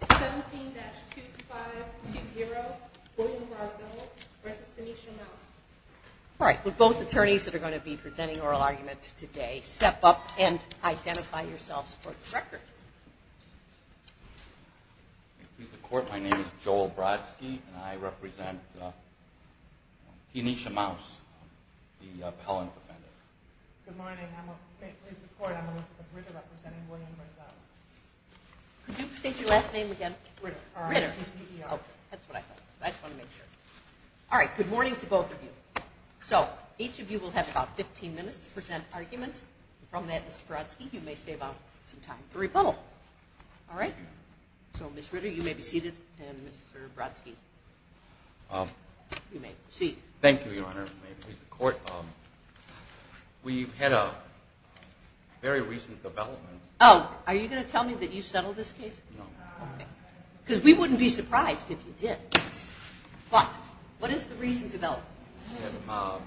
17-2520 William Brazeau v. Tanisha Maus All right, would both attorneys that are going to be presenting oral argument today step up and identify yourselves for the record? Good morning. My name is Joel Brodsky, and I represent Tanisha Maus, the appellant offender. Good morning. I'm a plaintiff in the court. I'm going to be representing William Brazeau. Could you state your last name again? Ritter. That's what I thought. I just wanted to make sure. All right, good morning to both of you. So each of you will have about 15 minutes to present arguments. From that, Mr. Brodsky, you may save up some time for rebuttal. All right? So, Ms. Ritter, you may be seated, and Mr. Brodsky, you may proceed. Thank you, Your Honor. We've had a very recent development. Oh, are you going to tell me that you settled this case? No. Okay, because we wouldn't be surprised if you did. But what is the recent development?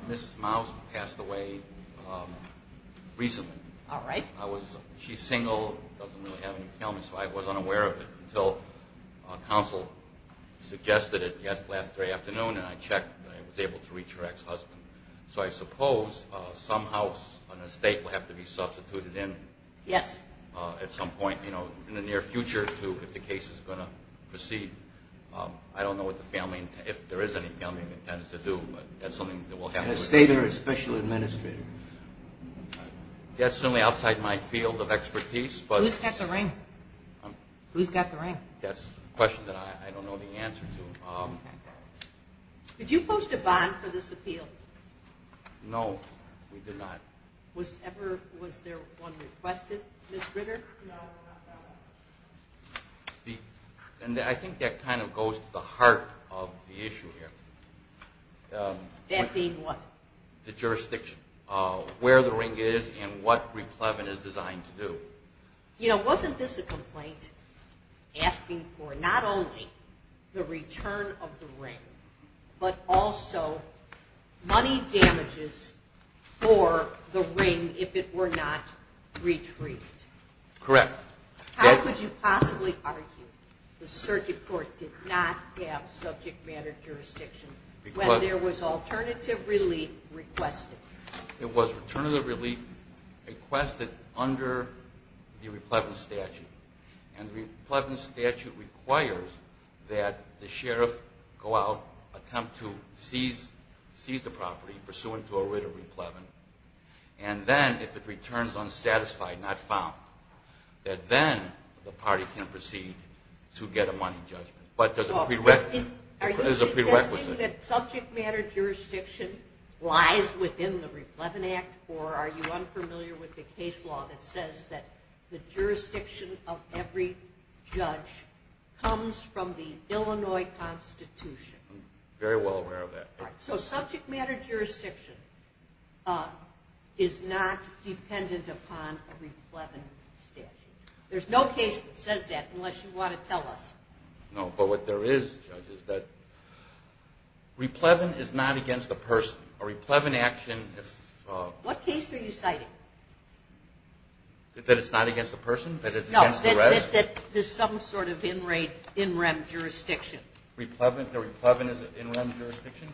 Ms. Maus passed away recently. All right. She's single, doesn't really have any family, so I wasn't aware of it until counsel suggested it last Thursday afternoon, and I checked and I was able to reach her ex-husband. So I suppose somehow an estate will have to be substituted in. Yes. At some point, you know, in the near future, too, if the case is going to proceed. I don't know what the family, if there is any family that intends to do, but that's something that will happen. An estate or a special administrator? That's certainly outside my field of expertise, but... Who's got the ring? That's a question that I don't know the answer to. Did you post a bond for this appeal? No, we did not. Was there one requested, Ms. Ritter? No, not that one. And I think that kind of goes to the heart of the issue here. That being what? The jurisdiction, where the ring is and what Replevin is designed to do. You know, wasn't this a complaint asking for not only the return of the ring, but also money damages for the ring if it were not retrieved? Correct. How could you possibly argue the circuit court did not have subject matter jurisdiction when there was alternative relief requested? It was alternative relief requested under the Replevin statute. And the Replevin statute requires that the sheriff go out, attempt to seize the property pursuant to a writ of Replevin, and then if it returns unsatisfied, not found, that then the party can proceed to get a money judgment. But there's a prerequisite. Are you saying that subject matter jurisdiction lies within the Replevin Act, or are you unfamiliar with the case law that says that the jurisdiction of every judge comes from the Illinois Constitution? Very well aware of that. So subject matter jurisdiction is not dependent upon a Replevin statute. There's no case that says that unless you want to tell us. No, but what there is, Judge, is that Replevin is not against the person. A Replevin action, if... What case are you citing? That it's not against the person, that it's against the resident? No, that there's some sort of in-rem jurisdiction. A Replevin is an in-rem jurisdiction?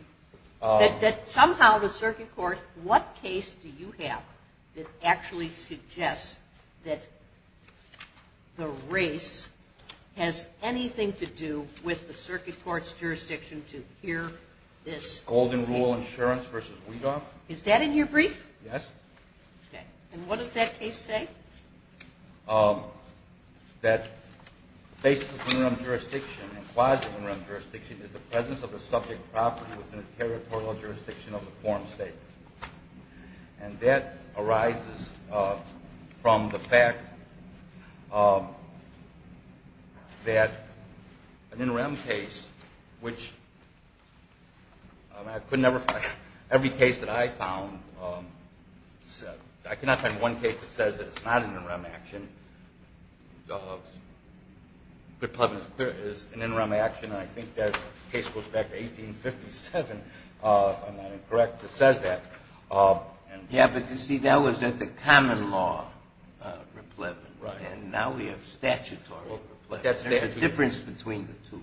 That somehow the circuit court, what case do you have that actually suggests that the race has anything to do with the circuit court's jurisdiction to hear this? Golden Rule Insurance v. Weedoff. Is that in your brief? Yes. Okay. And what does that case say? That the basis of in-rem jurisdiction and quasi-in-rem jurisdiction is the presence of the subject property within the territorial jurisdiction of the form state. And that arises from the fact that an in-rem case, which I could never find. Every case that I found, I cannot find one case that says that it's not an in-rem action. Replevin is an in-rem action, and I think that case goes back to 1857, if I'm not incorrect, that says that. Yeah, but you see, that was at the common law, Replevin. Right. And now we have statutory Replevin. There's a difference between the two.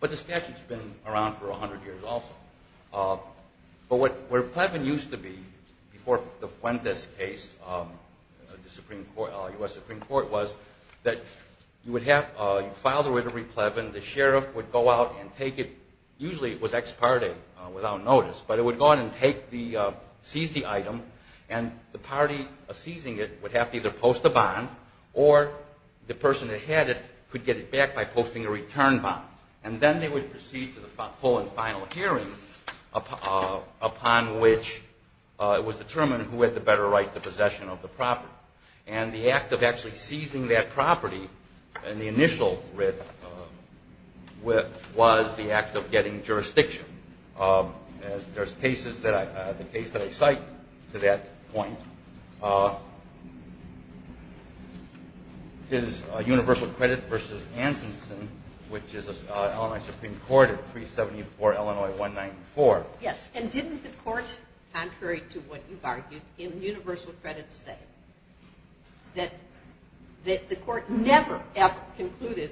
But the statute's been around for 100 years also. But what Replevin used to be, before the Fuentes case, the U.S. Supreme Court, was that you would have, you'd file the written Replevin. The sheriff would go out and take it. Usually it was ex parte, without notice. But it would go out and seize the item, and the party seizing it would have to either post a bond, or the person that had it could get it back by posting a return bond. And then they would proceed to the full and final hearing, upon which it was determined who had the better right to possession of the property. And the act of actually seizing that property in the initial writ was the act of getting jurisdiction. There's cases that I, the case that I cite to that point is Universal Credit v. Anderson, which is an Illinois Supreme Court at 374 Illinois 194. Yes, and didn't the court, contrary to what you've argued, in Universal Credit say that the court never ever concluded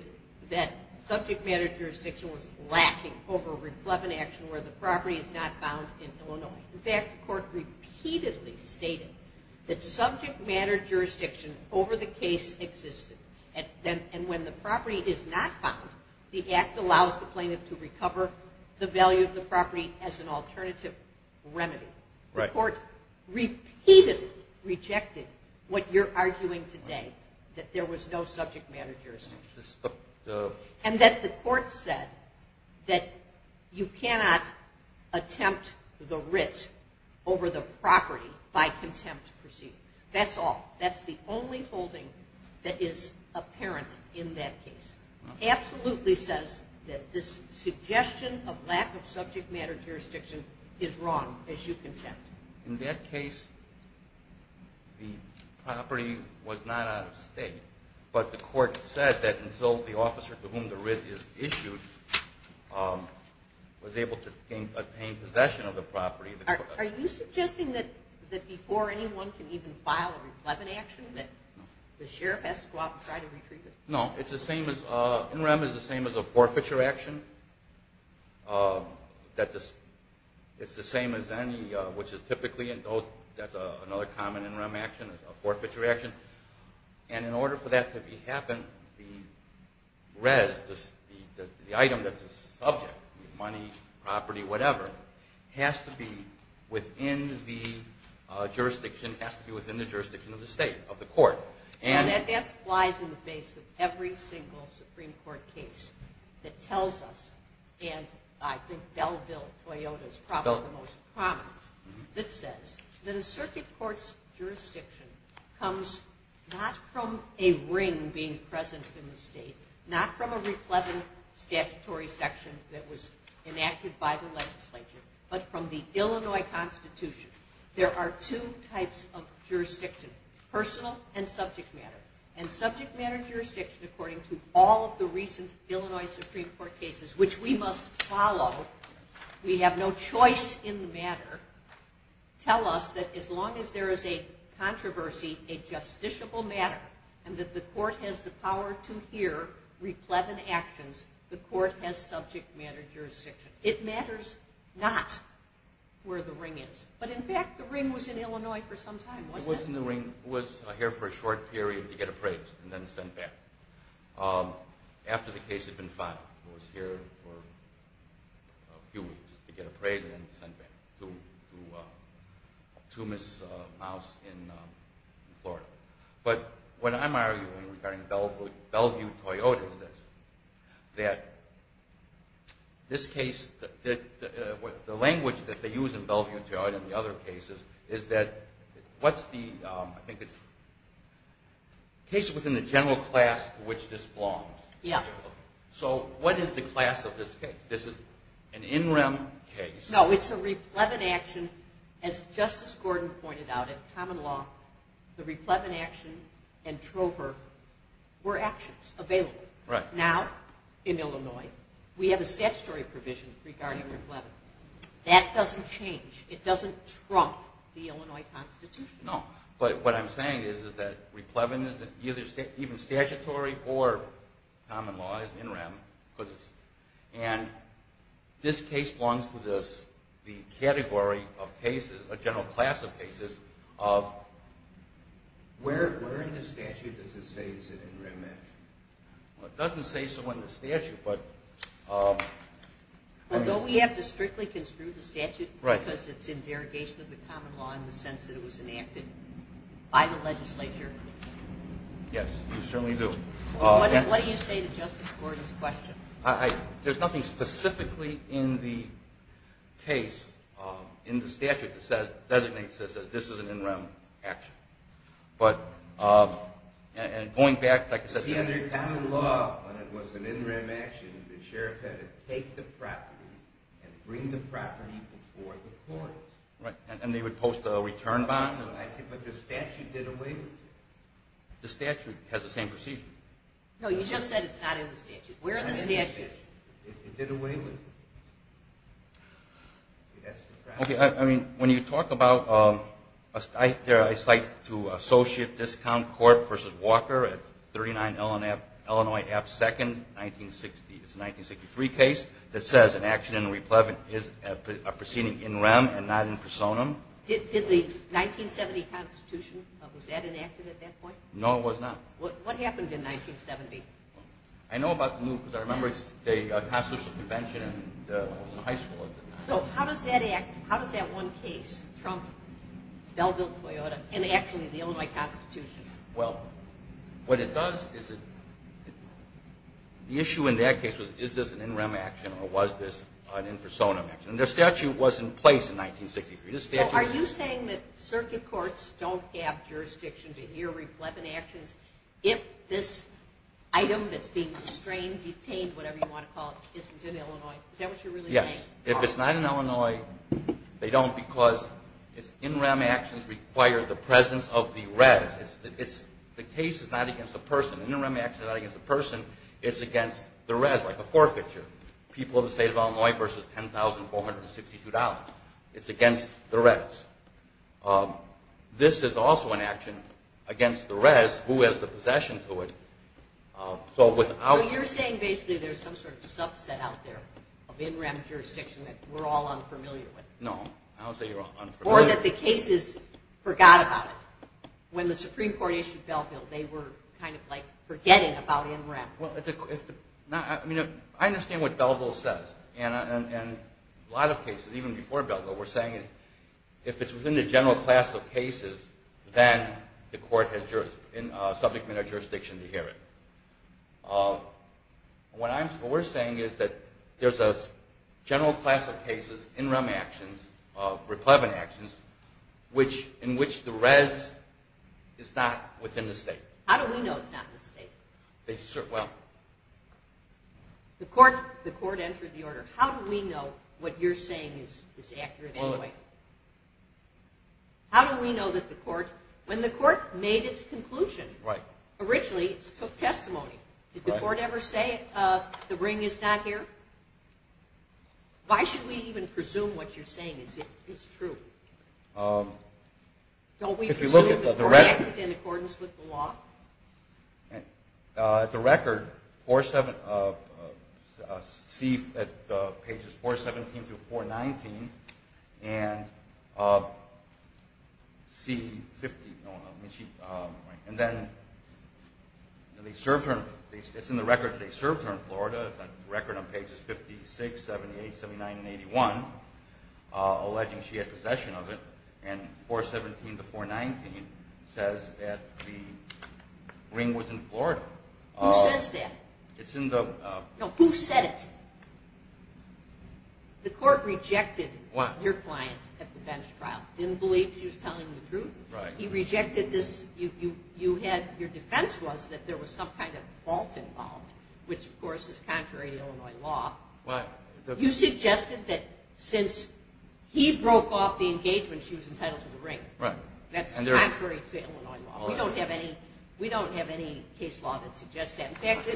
that subject matter jurisdiction was lacking over Replevin action where the property is not found in Illinois? In fact, the court repeatedly stated that subject matter jurisdiction over the case existed. And when the property is not found, the act allows the plaintiff to recover the value of the property as an alternative remedy. The court repeatedly rejected what you're arguing today, that there was no subject matter jurisdiction. And that the court said that you cannot attempt the writ over the property by contempt proceedings. That's all. That's the only holding that is apparent in that case. It absolutely says that this suggestion of lack of subject matter jurisdiction is wrong, as you contend. In that case, the property was not out of state, but the court said that until the officer to whom the writ is issued was able to obtain possession of the property. Are you suggesting that before anyone can even file a Replevin action that the sheriff has to go out and try to retrieve it? No, NREM is the same as a forfeiture action. It's the same as any, which is typically another common NREM action, a forfeiture action. And in order for that to happen, the item that's the subject, money, property, whatever, has to be within the jurisdiction of the state, of the court. And that flies in the face of every single Supreme Court case that tells us, and I think Bellville, Toyota is probably the most prominent, that says that a circuit court's jurisdiction comes not from a ring being present in the state, not from a Replevin statutory section that was enacted by the legislature, but from the Illinois Constitution. There are two types of jurisdiction, personal and subject matter. And subject matter jurisdiction, according to all of the recent Illinois Supreme Court cases, which we must follow, we have no choice in the matter, tell us that as long as there is a controversy, a justiciable matter, and that the court has the power to hear Replevin actions, the court has subject matter jurisdiction. It matters not where the ring is. But in fact, the ring was in Illinois for some time, wasn't it? It was in the ring. It was here for a short period to get appraised and then sent back. After the case had been filed, it was here for a few weeks to get appraised and then sent back to Miss Mouse in Florida. But what I'm arguing regarding Bellevue, Toyota is this, that this case, the language that they use in Bellevue, Toyota and the other cases, is that what's the, I think it's cases within the general class to which this belongs. Yeah. So what is the class of this case? This is an in rem case. No, it's a Replevin action. As Justice Gordon pointed out, in common law, the Replevin action and Trover were actions available. Right. Now, in Illinois, we have a statutory provision regarding Replevin. That doesn't change. It doesn't trump the Illinois Constitution. No. But what I'm saying is that Replevin isn't even statutory or common law. It's in rem. And this case belongs to the category of cases, a general class of cases of... Where in the statute does it say it's an in rem action? Well, it doesn't say so in the statute, but... Although we have to strictly construe the statute because it's in derogation of the common law in the sense that it was enacted by the legislature. Yes, you certainly do. What do you say to Justice Gordon's question? There's nothing specifically in the case, in the statute, that designates this as an in rem action. But going back... Because under common law, when it was an in rem action, the sheriff had to take the property and bring the property before the courts. Right. And they would post a return bond. I see. But the statute did away with it. The statute has the same procedure. No, you just said it's not in the statute. Where in the statute? It did away with it. Okay, I mean, when you talk about... I cite to Associate Discount Court v. Walker at 39 Illinois Ave. 2nd, 1960. It's a 1963 case that says an action in replevant is a proceeding in rem and not in personam. Did the 1970 Constitution, was that enacted at that point? No, it was not. What happened in 1970? I know about the move because I remember the Constitutional Convention in high school at the time. So how does that one case, Trump, Bellville-Toyota, and actually the Illinois Constitution... Well, what it does is it... The issue in that case was, is this an in rem action or was this an in personam action? And their statute was in place in 1963. So are you saying that circuit courts don't have jurisdiction to hear replevant actions if this item that's being restrained, detained, whatever you want to call it, isn't in Illinois? Is that what you're really saying? Yes. If it's not in Illinois, they don't because it's in rem actions require the presence of the res. The case is not against the person. An in rem action is not against the person. It's against the res, like a forfeiture. People of the state of Illinois versus $10,462. It's against the res. This is also an action against the res who has the possession to it. So without... So you're saying basically there's some sort of subset out there of in rem jurisdiction that we're all unfamiliar with. No. I don't say we're all unfamiliar. Or that the cases forgot about it. When the Supreme Court issued Bellville, they were kind of like forgetting about in rem. I understand what Bellville says. A lot of cases, even before Bellville, were saying if it's within the general class of cases, then the court has subject matter jurisdiction to hear it. What we're saying is that there's a general class of cases, in rem actions, replevant actions, in which the res is not within the state. How do we know it's not within the state? Well... The court entered the order. How do we know what you're saying is accurate anyway? How do we know that the court... When the court made its conclusion, originally it took testimony. Did the court ever say the ring is not here? Why should we even presume what you're saying is true? Don't we presume that the court acted in accordance with the law? At the record, pages 417 through 419, and C50... And then it's in the record that they served her in Florida. It's a record on pages 56, 78, 79, and 81, alleging she had possession of it. And 417 to 419 says that the ring was in Florida. Who says that? It's in the... No, who said it? The court rejected your client at the bench trial. Didn't believe she was telling the truth. He rejected this. Your defense was that there was some kind of fault involved, which, of course, is contrary to Illinois law. You suggested that since he broke off the engagement, she was entitled to the ring. That's contrary to Illinois law. We don't have any case law that suggests that. In fact,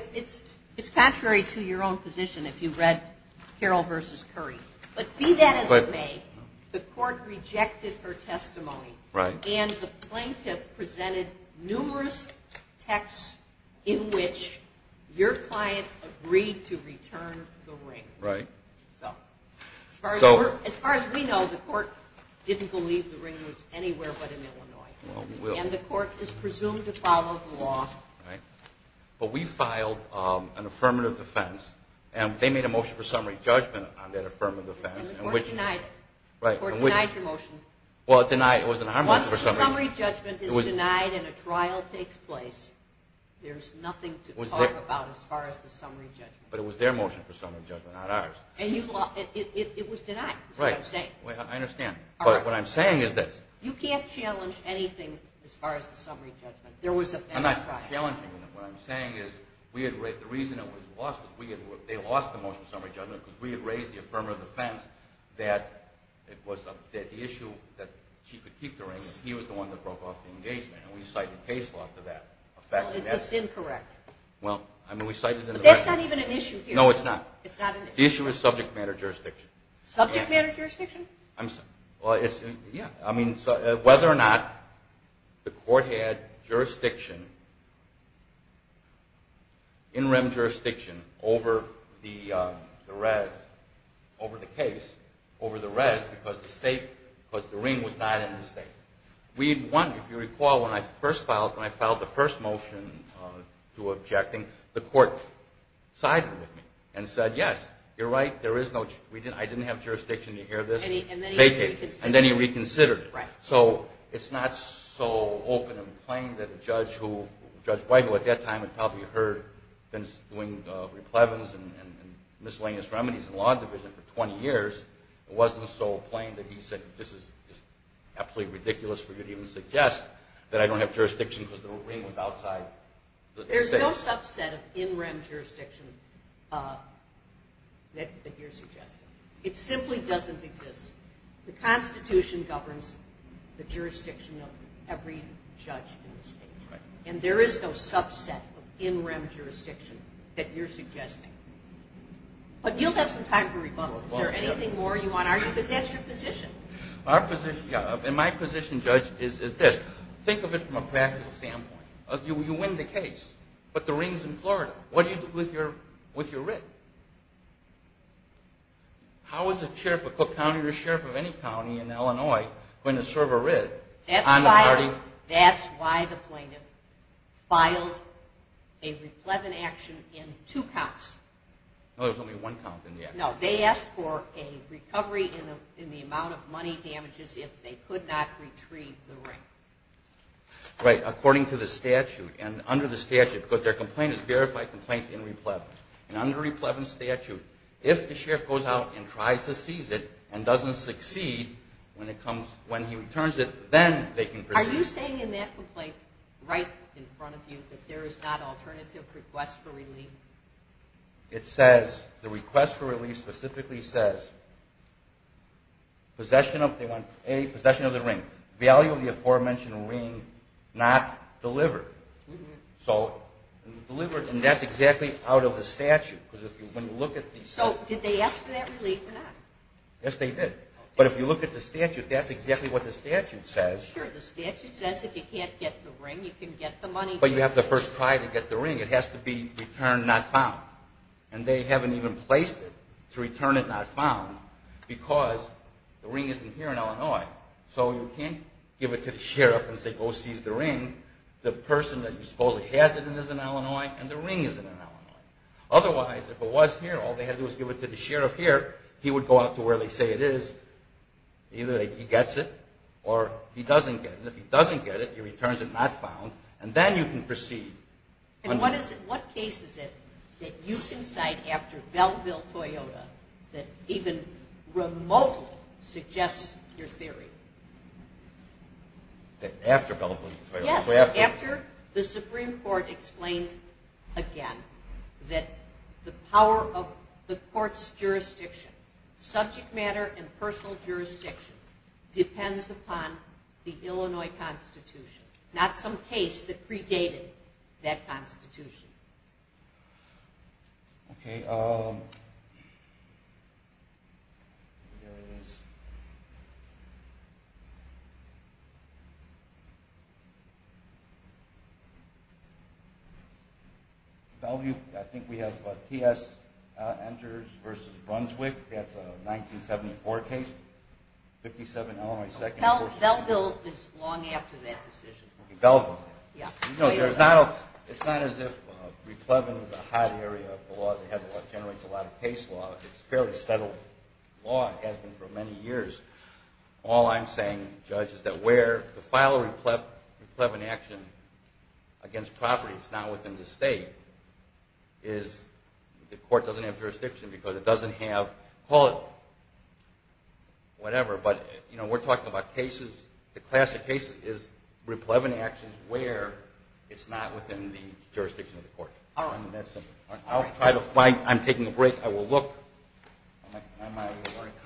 it's contrary to your own position if you read Carroll v. Curry. But be that as it may, the court rejected her testimony. Right. And the plaintiff presented numerous texts in which your client agreed to return the ring. Right. So as far as we know, the court didn't believe the ring was anywhere but in Illinois. And the court is presumed to follow the law. Right. But we filed an affirmative defense, and they made a motion for summary judgment on that affirmative defense. And the court denied it. Right. The court denied your motion. Well, it was in our motion for summary judgment. Once the summary judgment is denied and a trial takes place, there's nothing to talk about as far as the summary judgment. But it was their motion for summary judgment, not ours. It was denied. Right. That's what I'm saying. I understand. But what I'm saying is this. You can't challenge anything as far as the summary judgment. I'm not challenging them. What I'm saying is the reason it was lost was they lost the motion for summary judgment because we had raised the affirmative defense that the issue that she could keep the ring, he was the one that broke off the engagement, and we cited case law for that. Well, it's just incorrect. Well, I mean, we cited it in the record. But that's not even an issue here. No, it's not. It's not an issue. The issue is subject matter jurisdiction. Subject matter jurisdiction? I'm sorry. Yeah. I mean, whether or not the court had jurisdiction, interim jurisdiction, over the res, over the case, over the res, because the state, because the ring was not in the state. If you recall, when I first filed, when I filed the first motion to objecting, the court sided with me and said, yes, you're right, there is no, I didn't have jurisdiction. Did you hear this? And then he reconsidered it. And then he reconsidered it. Right. So it's not so open and plain that a judge who, Judge White, who at that time had probably heard Vince doing replevens and miscellaneous remedies in the law division for 20 years, it wasn't so plain that he said, this is absolutely ridiculous for you to even suggest that I don't have jurisdiction because the ring was outside the state. There's no subset of interim jurisdiction that you're suggesting. It simply doesn't exist. The Constitution governs the jurisdiction of every judge in the state. And there is no subset of interim jurisdiction that you're suggesting. But you'll have some time for rebuttal. Is there anything more you want to argue? Because that's your position. Our position, yeah, and my position, Judge, is this. Think of it from a practical standpoint. You win the case, but the ring's in Florida. What do you do with your writ? How is a sheriff of Cook County or a sheriff of any county in Illinois going to serve a writ on the party? That's why the plaintiff filed a repleven action in two counts. No, there was only one count in the action. No, they asked for a recovery in the amount of money damages if they could not retrieve the ring. Right, according to the statute. And under the statute, because their complaint is verified complaint in repleven. And under repleven statute, if the sheriff goes out and tries to seize it and doesn't succeed when he returns it, then they can proceed. Are you saying in that complaint right in front of you that there is not alternative request for relief? It says, the request for relief specifically says, possession of the ring, value of the aforementioned ring not delivered. So delivered, and that's exactly out of the statute. So did they ask for that relief or not? Yes, they did. But if you look at the statute, that's exactly what the statute says. Sure, the statute says if you can't get the ring, you can get the money. But you have to first try to get the ring. It has to be returned not found. And they haven't even placed it to return it not found because the ring isn't here in Illinois. So you can't give it to the sheriff and say, go seize the ring. The person that you supposedly has it in is in Illinois, and the ring is in Illinois. Otherwise, if it was here, all they had to do was give it to the sheriff here. He would go out to where they say it is. Either he gets it or he doesn't get it. And if he doesn't get it, he returns it not found, and then you can proceed. And what case is it that you can cite after Belleville-Toyota that even remotely suggests your theory? After Belleville-Toyota? Yes, after the Supreme Court explained again that the power of the court's jurisdiction, subject matter and personal jurisdiction, depends upon the Illinois Constitution, not some case that predated that Constitution. Belleville, I think we have T.S. enters versus Brunswick. That's a 1974 case. Belleville is long after that decision. Belleville. It's not as if replevin is a hot area of the law that generates a lot of case law. It's a fairly settled law. It has been for many years. All I'm saying, Judge, is that where the final replevin action against property is now within the state, is the court doesn't have jurisdiction because it doesn't have, call it whatever, but we're talking about cases. The classic case is replevin actions where it's not within the jurisdiction of the court. I'm taking a break. I will look. My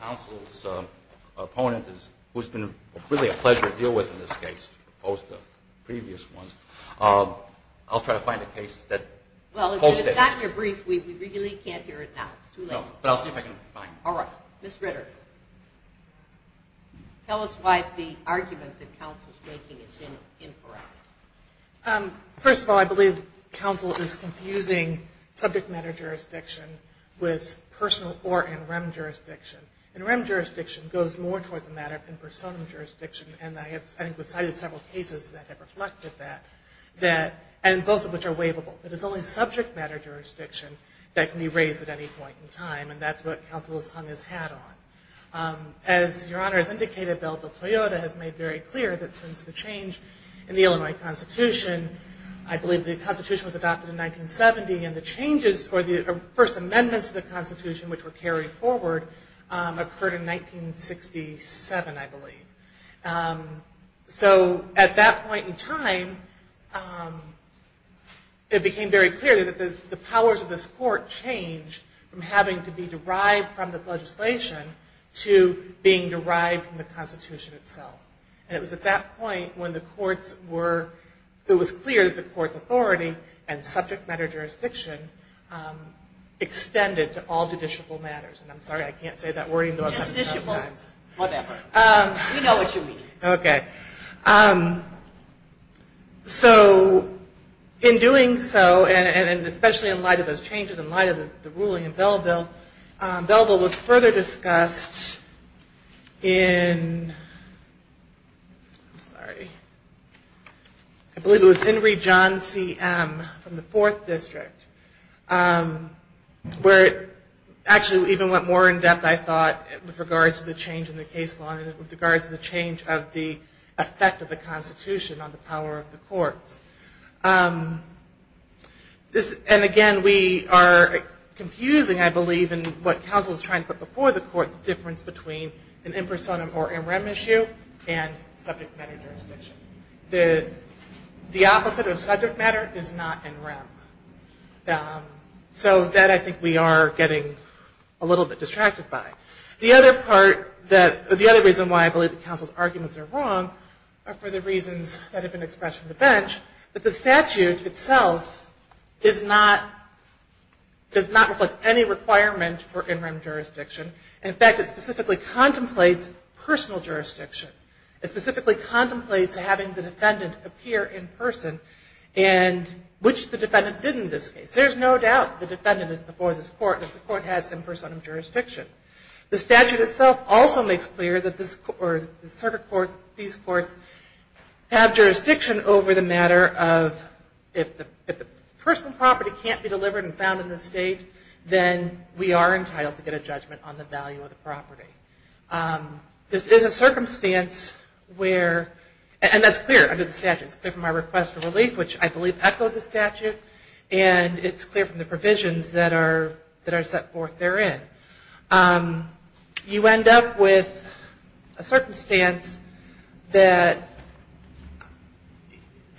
counsel's opponent, who's been really a pleasure to deal with in this case, opposed to the previous ones, I'll try to find a case that holds that. Well, it's not in your brief. We really can't hear it now. It's too late. No, but I'll see if I can find it. All right. Ms. Ritter, tell us why the argument that counsel's making is incorrect. First of all, I believe counsel is confusing subject matter jurisdiction with personal or NREM jurisdiction. NREM jurisdiction goes more towards the matter than personam jurisdiction, and I think we've cited several cases that have reflected that, and both of which are waivable. It is only subject matter jurisdiction that can be raised at any point in time, and that's what counsel has hung his hat on. As Your Honor has indicated, Bill de Toyota has made very clear that since the change in the Illinois Constitution, I believe the Constitution was adopted in 1970, or the first amendments to the Constitution, which were carried forward, occurred in 1967, I believe. So at that point in time, it became very clear that the powers of this court changed from having to be derived from the legislation to being derived from the Constitution itself. And it was at that point when the courts were, it was clear that the court's authority and subject matter jurisdiction extended to all judicial matters. And I'm sorry, I can't say that word. Justiciable. Whatever. We know what you mean. Okay. So in doing so, and especially in light of those changes, in light of the ruling in Belleville, Belleville was further discussed in, I'm sorry, I believe it was Henry John C.M. from the Fourth District, where it actually even went more in depth, I thought, with regards to the change in the case law, and with regards to the change of the effect of the Constitution on the power of the courts. And again, we are confusing, I believe, in what counsel is trying to put before the court, the difference between an impersonum or in rem issue and subject matter jurisdiction. The opposite of subject matter is not in rem. So that I think we are getting a little bit distracted by. The other part that, the other reason why I believe that counsel's arguments are wrong are for the reasons that have been expressed from the bench, that the statute itself is not, does not reflect any requirement for in rem jurisdiction. In fact, it specifically contemplates personal jurisdiction. It specifically contemplates having the defendant appear in person, and which the defendant did in this case. There's no doubt the defendant is before this court, and the court has impersonum jurisdiction. The statute itself also makes clear that the circuit court, these courts, have jurisdiction over the matter of, if the personal property can't be delivered and found in the state, then we are entitled to get a judgment on the value of the property. This is a circumstance where, and that's clear under the statute, it's clear from our request for relief, which I believe echoed the statute, and it's clear from the provisions that are set forth therein. You end up with a circumstance that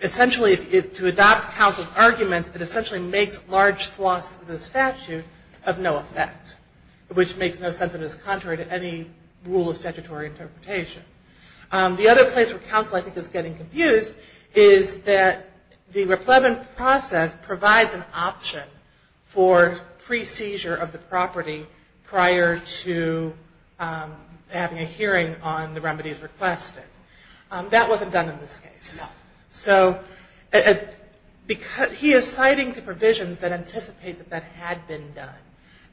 essentially, to adopt counsel's arguments, it essentially makes large swaths of the statute of no effect, which makes no sense of its contrary to any rule of statutory interpretation. The other place where counsel, I think, is getting confused, is that the replevant process provides an option for pre-seizure of the property prior to having a hearing on the remedies requested. That wasn't done in this case. No. So, he is citing the provisions that anticipate that that had been done.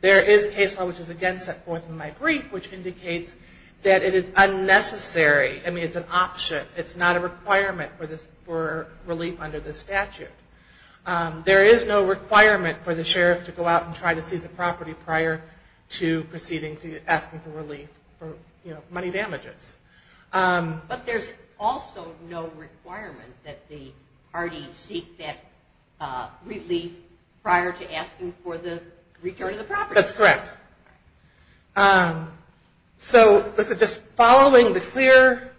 There is case law, which is again set forth in my brief, which indicates that it is unnecessary. I mean, it's an option. It's not a requirement for relief under the statute. There is no requirement for the sheriff to go out and try to seize the property prior to proceeding to asking for relief for money damages. But there's also no requirement that the parties seek that relief prior to asking for the return of the property. That's correct. So, just following the clear,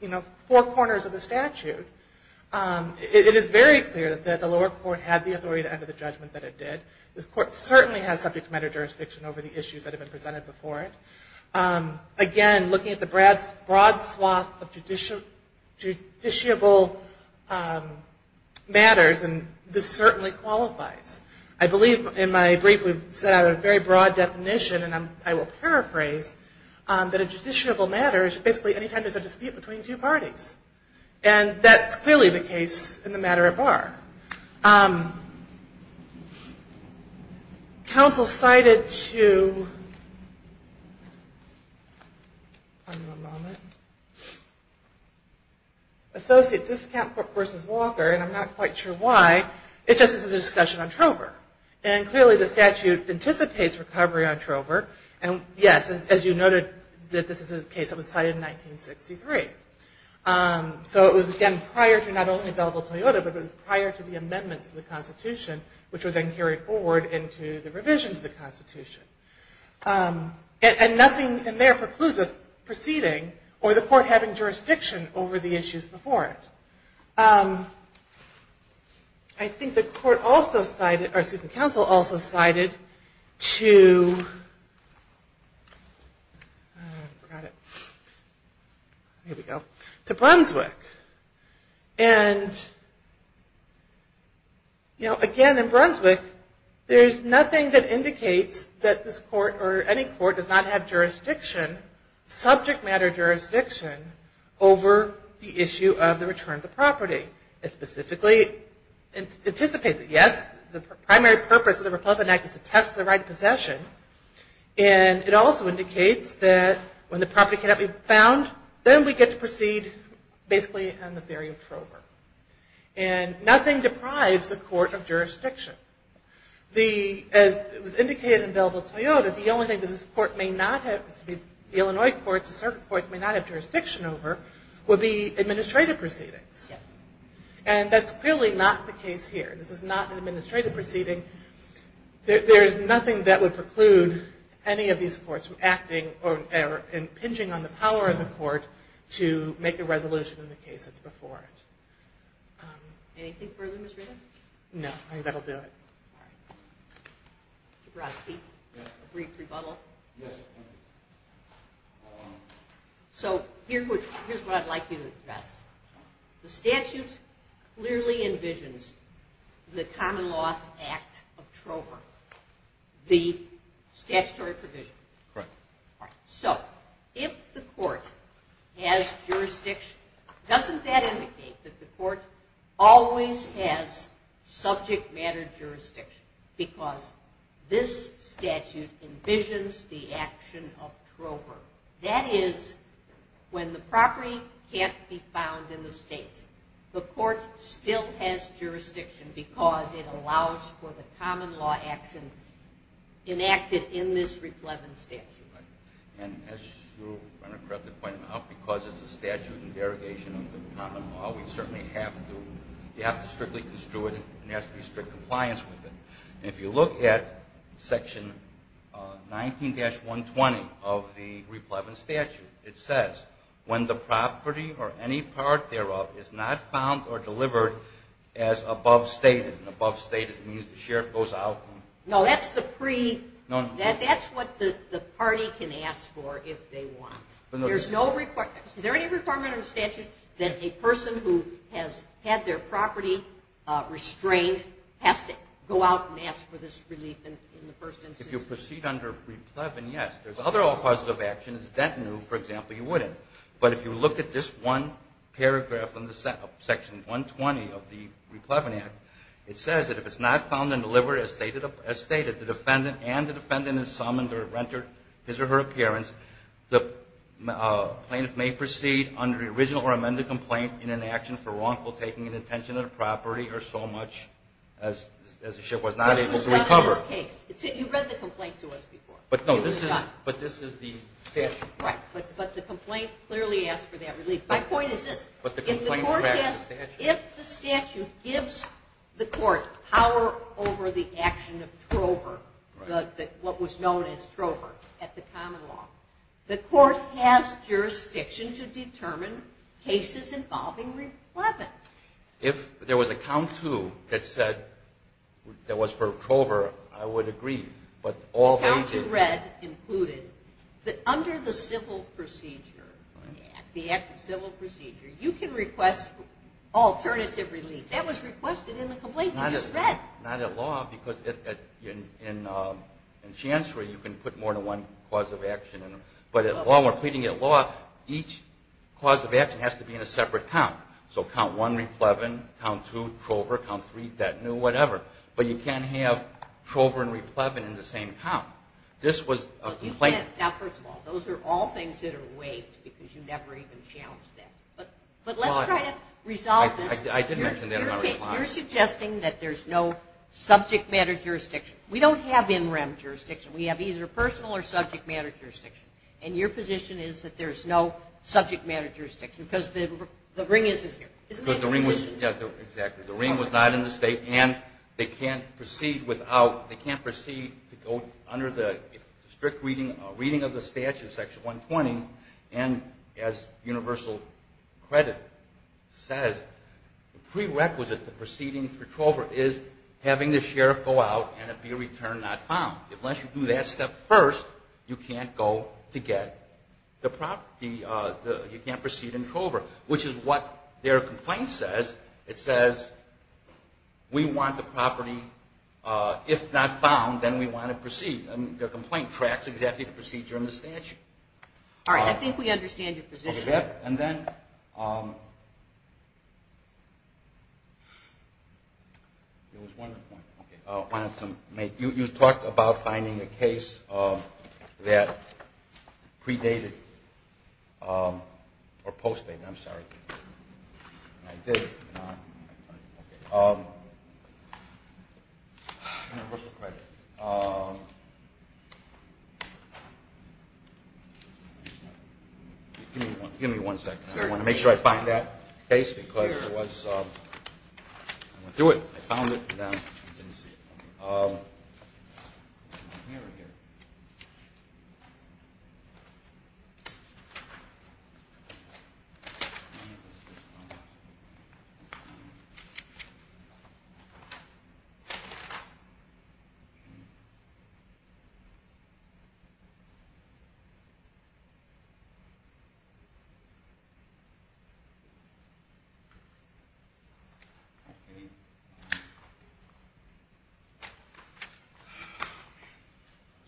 you know, four corners of the statute, it is very clear that the lower court had the authority to enter the judgment that it did. The court certainly has subject matter jurisdiction over the issues that have been presented before it. Again, looking at the broad swath of judiciable matters, this certainly qualifies. I believe in my brief we've set out a very broad definition, and I will paraphrase, that a judiciable matter is basically any time there's a dispute between two parties. And that's clearly the case in the matter at bar. Counsel cited to associate this count versus Walker, and I'm not quite sure why. It just is a discussion on Trover. And clearly the statute anticipates recovery on Trover. And, yes, as you noted, this is a case that was cited in 1963. So it was, again, prior to not only available Toyota, but it was prior to the amendments to the Constitution, which were then carried forward into the revision of the Constitution. And nothing in there precludes us proceeding or the court having jurisdiction over the issues before it. I think the court also cited, or excuse me, counsel also cited to, here we go, to Brunswick. And, you know, again, in Brunswick there's nothing that indicates that this court or any court does not have jurisdiction, subject matter jurisdiction, over the issue of the return of the property. It specifically anticipates it. Yes, the primary purpose of the Republican Act is to test the right of possession. And it also indicates that when the property cannot be found, then we get to proceed basically on the theory of Trover. And nothing deprives the court of jurisdiction. The, as was indicated in available Toyota, the only thing that this court may not have, the Illinois courts, the circuit courts may not have jurisdiction over, would be administrative proceedings. Yes. And that's clearly not the case here. This is not an administrative proceeding. There is nothing that would preclude any of these courts from acting or impinging on the power of the court to make a resolution in the case that's before it. Anything further, Ms. Reardon? No, I think that will do it. Mr. Brodsky? Yes. A brief rebuttal? Yes. So here's what I'd like you to address. The statute clearly envisions the common law act of Trover, the statutory provision. Correct. All right. So if the court has jurisdiction, doesn't that indicate that the court always has subject matter jurisdiction because this statute envisions the action of Trover? That is, when the property can't be found in the state, the court still has jurisdiction because it allows for the common law action enacted in this replevin statute. And as you correctly pointed out, because it's a statute in derogation of the common law, we certainly have to strictly construe it and there has to be strict compliance with it. If you look at Section 19-120 of the replevin statute, it says, when the property or any part thereof is not found or delivered as above stated, and above stated means the sheriff goes out. No, that's the pre- No. That's what the party can ask for if they want. Is there any requirement in the statute that a person who has had their property restrained has to go out and ask for this relief in the first instance? If you proceed under replevin, yes. There's other all causes of action. If it's dentinu, for example, you wouldn't. But if you look at this one paragraph in Section 120 of the replevin act, it says that if it's not found and delivered as stated, the defendant and the defendant is summoned or rendered his or her appearance, the plaintiff may proceed under the original or amended complaint in an action for wrongful taking and detention of the property or so much as the sheriff was not able to recover. This was done in this case. You read the complaint to us before. But no, this is the statute. Right. But the complaint clearly asks for that relief. My point is this. But the complaint tracks the statute. If the statute gives the court power over the action of Trover, what was known as Trover at the common law, the court has jurisdiction to determine cases involving replevin. If there was a count to that said that was for Trover, I would agree. The count you read included that under the civil procedure, the act of civil procedure, you can request alternative relief. That was requested in the complaint you just read. Not at law because in chancery you can put more than one cause of action. But at law, when we're pleading at law, each cause of action has to be in a separate count. So count one, replevin, count two, Trover, count three, detenu, whatever. But you can't have Trover and replevin in the same count. This was a complaint. Now, first of all, those are all things that are waived because you never even challenged that. But let's try to resolve this. I did mention that in my reply. You're suggesting that there's no subject matter jurisdiction. We don't have in rem jurisdiction. We have either personal or subject matter jurisdiction. And your position is that there's no subject matter jurisdiction because the ring isn't here. Isn't that your position? Exactly. The ring was not in the state and they can't proceed to go under the strict reading of the statute, section 120, and as universal credit says, prerequisite to proceeding for Trover is having the sheriff go out and it be a return not found. Unless you do that step first, you can't proceed in Trover, which is what their complaint says. It says we want the property if not found, then we want to proceed. Their complaint tracks exactly the procedure in the statute. All right. I think we understand your position. Okay. You talked about finding a case that predated or postdated. I'm sorry. Give me one second. I want to make sure I find that case. Through it. I found it. Okay. Oh, man.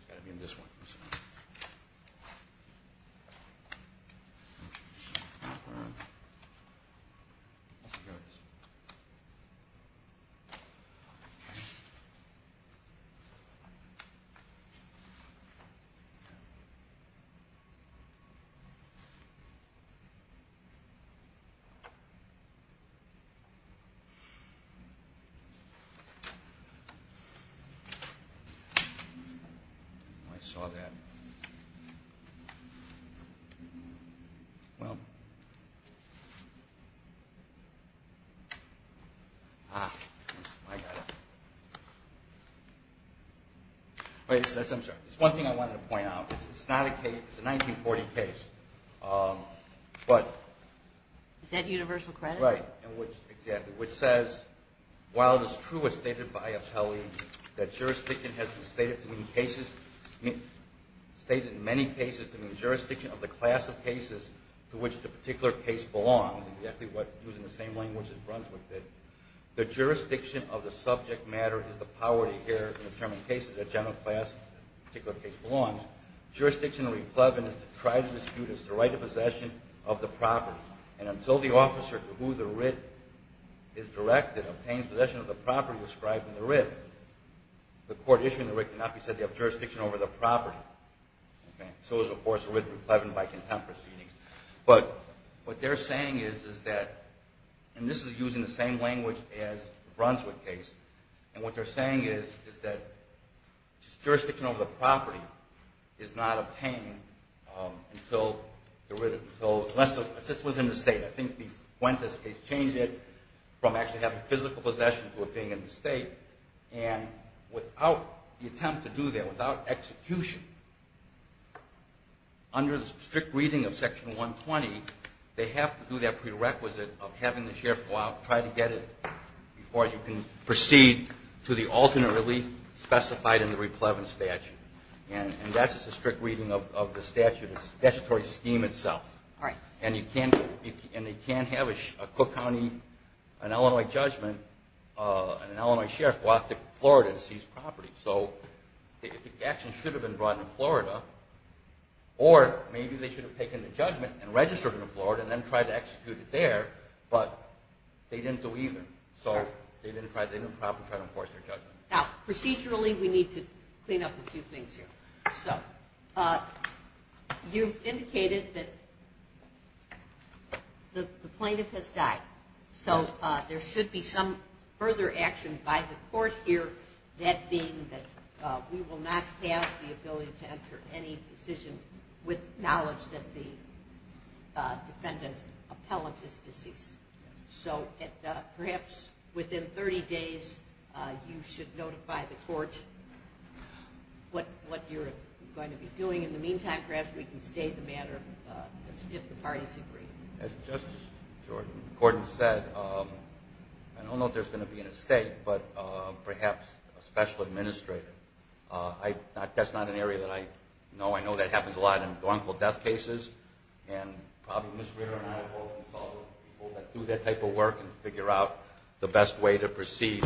It's got to be in this one. I saw that. Well. Ah. I got it. Wait. I'm sorry. There's one thing I wanted to point out. It's not a case. Okay. Okay. Okay. Okay. Okay. Okay. Okay. Okay. Okay. Okay. Okay. Okay. Okay. Okay. Okay. Okay. All right. Which says while it's true, it's stated by Appellee that jurisdiction has been stated to mean cases, state in many cases to mean the jurisdiction of the class of cases to which the particular case belongs, exactly what, using the same language that runs with this, the jurisdiction of the subject matter is the power to adhere to the ten played cases that general class of particular case belongs. Jurisdiction of reception is to try. It's the right of possession of the property, and until the officer to who the writ is directed obtains possession of the property described in the writ, the court issuing the writ cannot be said to have jurisdiction over the property, okay? So is, of course, the writ to be pledged by contempt proceedings, but what they're saying is that, and this is using the same language as the Brunswick case, and what they're saying is that jurisdiction over the property is not obtained until the writ, so it sits within the state. I think the Fuentes case changed it from actually having physical possession to it being in the state, and without the attempt to do that, without execution, under the strict reading of Section 120, they have to do that prerequisite of having the sheriff go out, try to get it before you can proceed to the alternate relief specified in the replevant statute, and that's just a strict reading of the statutory scheme itself, and they can't have a Cook County, an Illinois judgment, and an Illinois sheriff go out to Florida to seize property, so the action should have been brought in Florida, or maybe they should have taken the judgment and registered it in Florida, and then tried to execute it there, but they didn't do either, so they didn't try to enforce their judgment. Now, procedurally, we need to clean up a few things here. So, you've indicated that the plaintiff has died, so there should be some further action by the court here, that being that we will not have the ability to enter any decision with knowledge that the defendant appellate is deceased. So, perhaps within 30 days, you should notify the court what you're going to be doing. In the meantime, perhaps we can state the matter, if the parties agree. As Justice Jordan said, I don't know if there's going to be an estate, but perhaps a special I know that happens a lot in gruntle death cases, and probably Ms. Ritter and I will consult with people that do that type of work and figure out the best way to proceed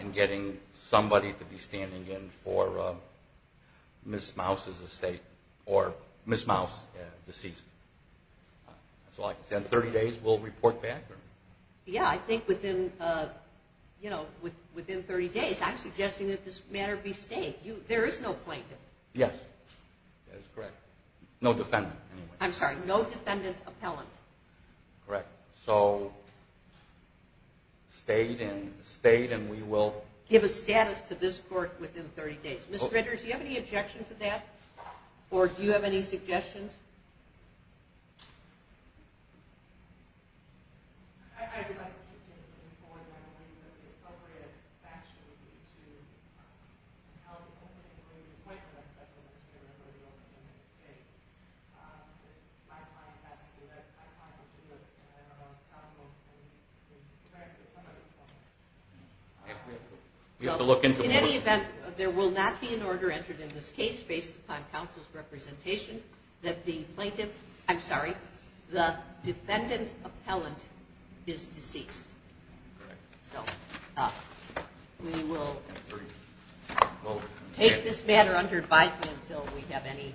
in getting somebody to be standing in for Ms. Mouse's estate, or Ms. Mouse, deceased. So, like I said, in 30 days, we'll report back? Yeah, I think within 30 days, I'm suggesting that this matter be stayed. There is no plaintiff. Yes, that is correct. No defendant, anyway. I'm sorry, no defendant appellant. Correct. So, stayed, and we will... Give a status to this court within 30 days. Ms. Ritter, do you have any objection to that? Or do you have any suggestions? I would like to keep you informed, by the way, that the appropriate action would be to have the opening of an appointment of a special minister for the opening of an estate. My client has to do that. My client has to do it. And I don't know how long it's going to be. In fact, it's somebody's appointment. We have to look into... In any event, there will not be an order entered in this case based upon counsel's representation that the plaintiff... I'm sorry, the defendant appellant is deceased. Correct. So, we will take this matter under advisement until we have any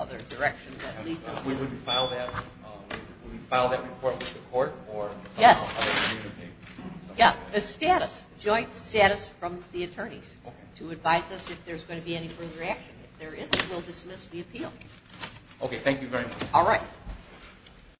other direction that leads us... Will we file that report with the court or... Yes. ...other community? Yeah, the status, joint status from the attorneys to advise us if there's going to be any further action. If there isn't, we'll dismiss the appeal. Okay, thank you very much. All right.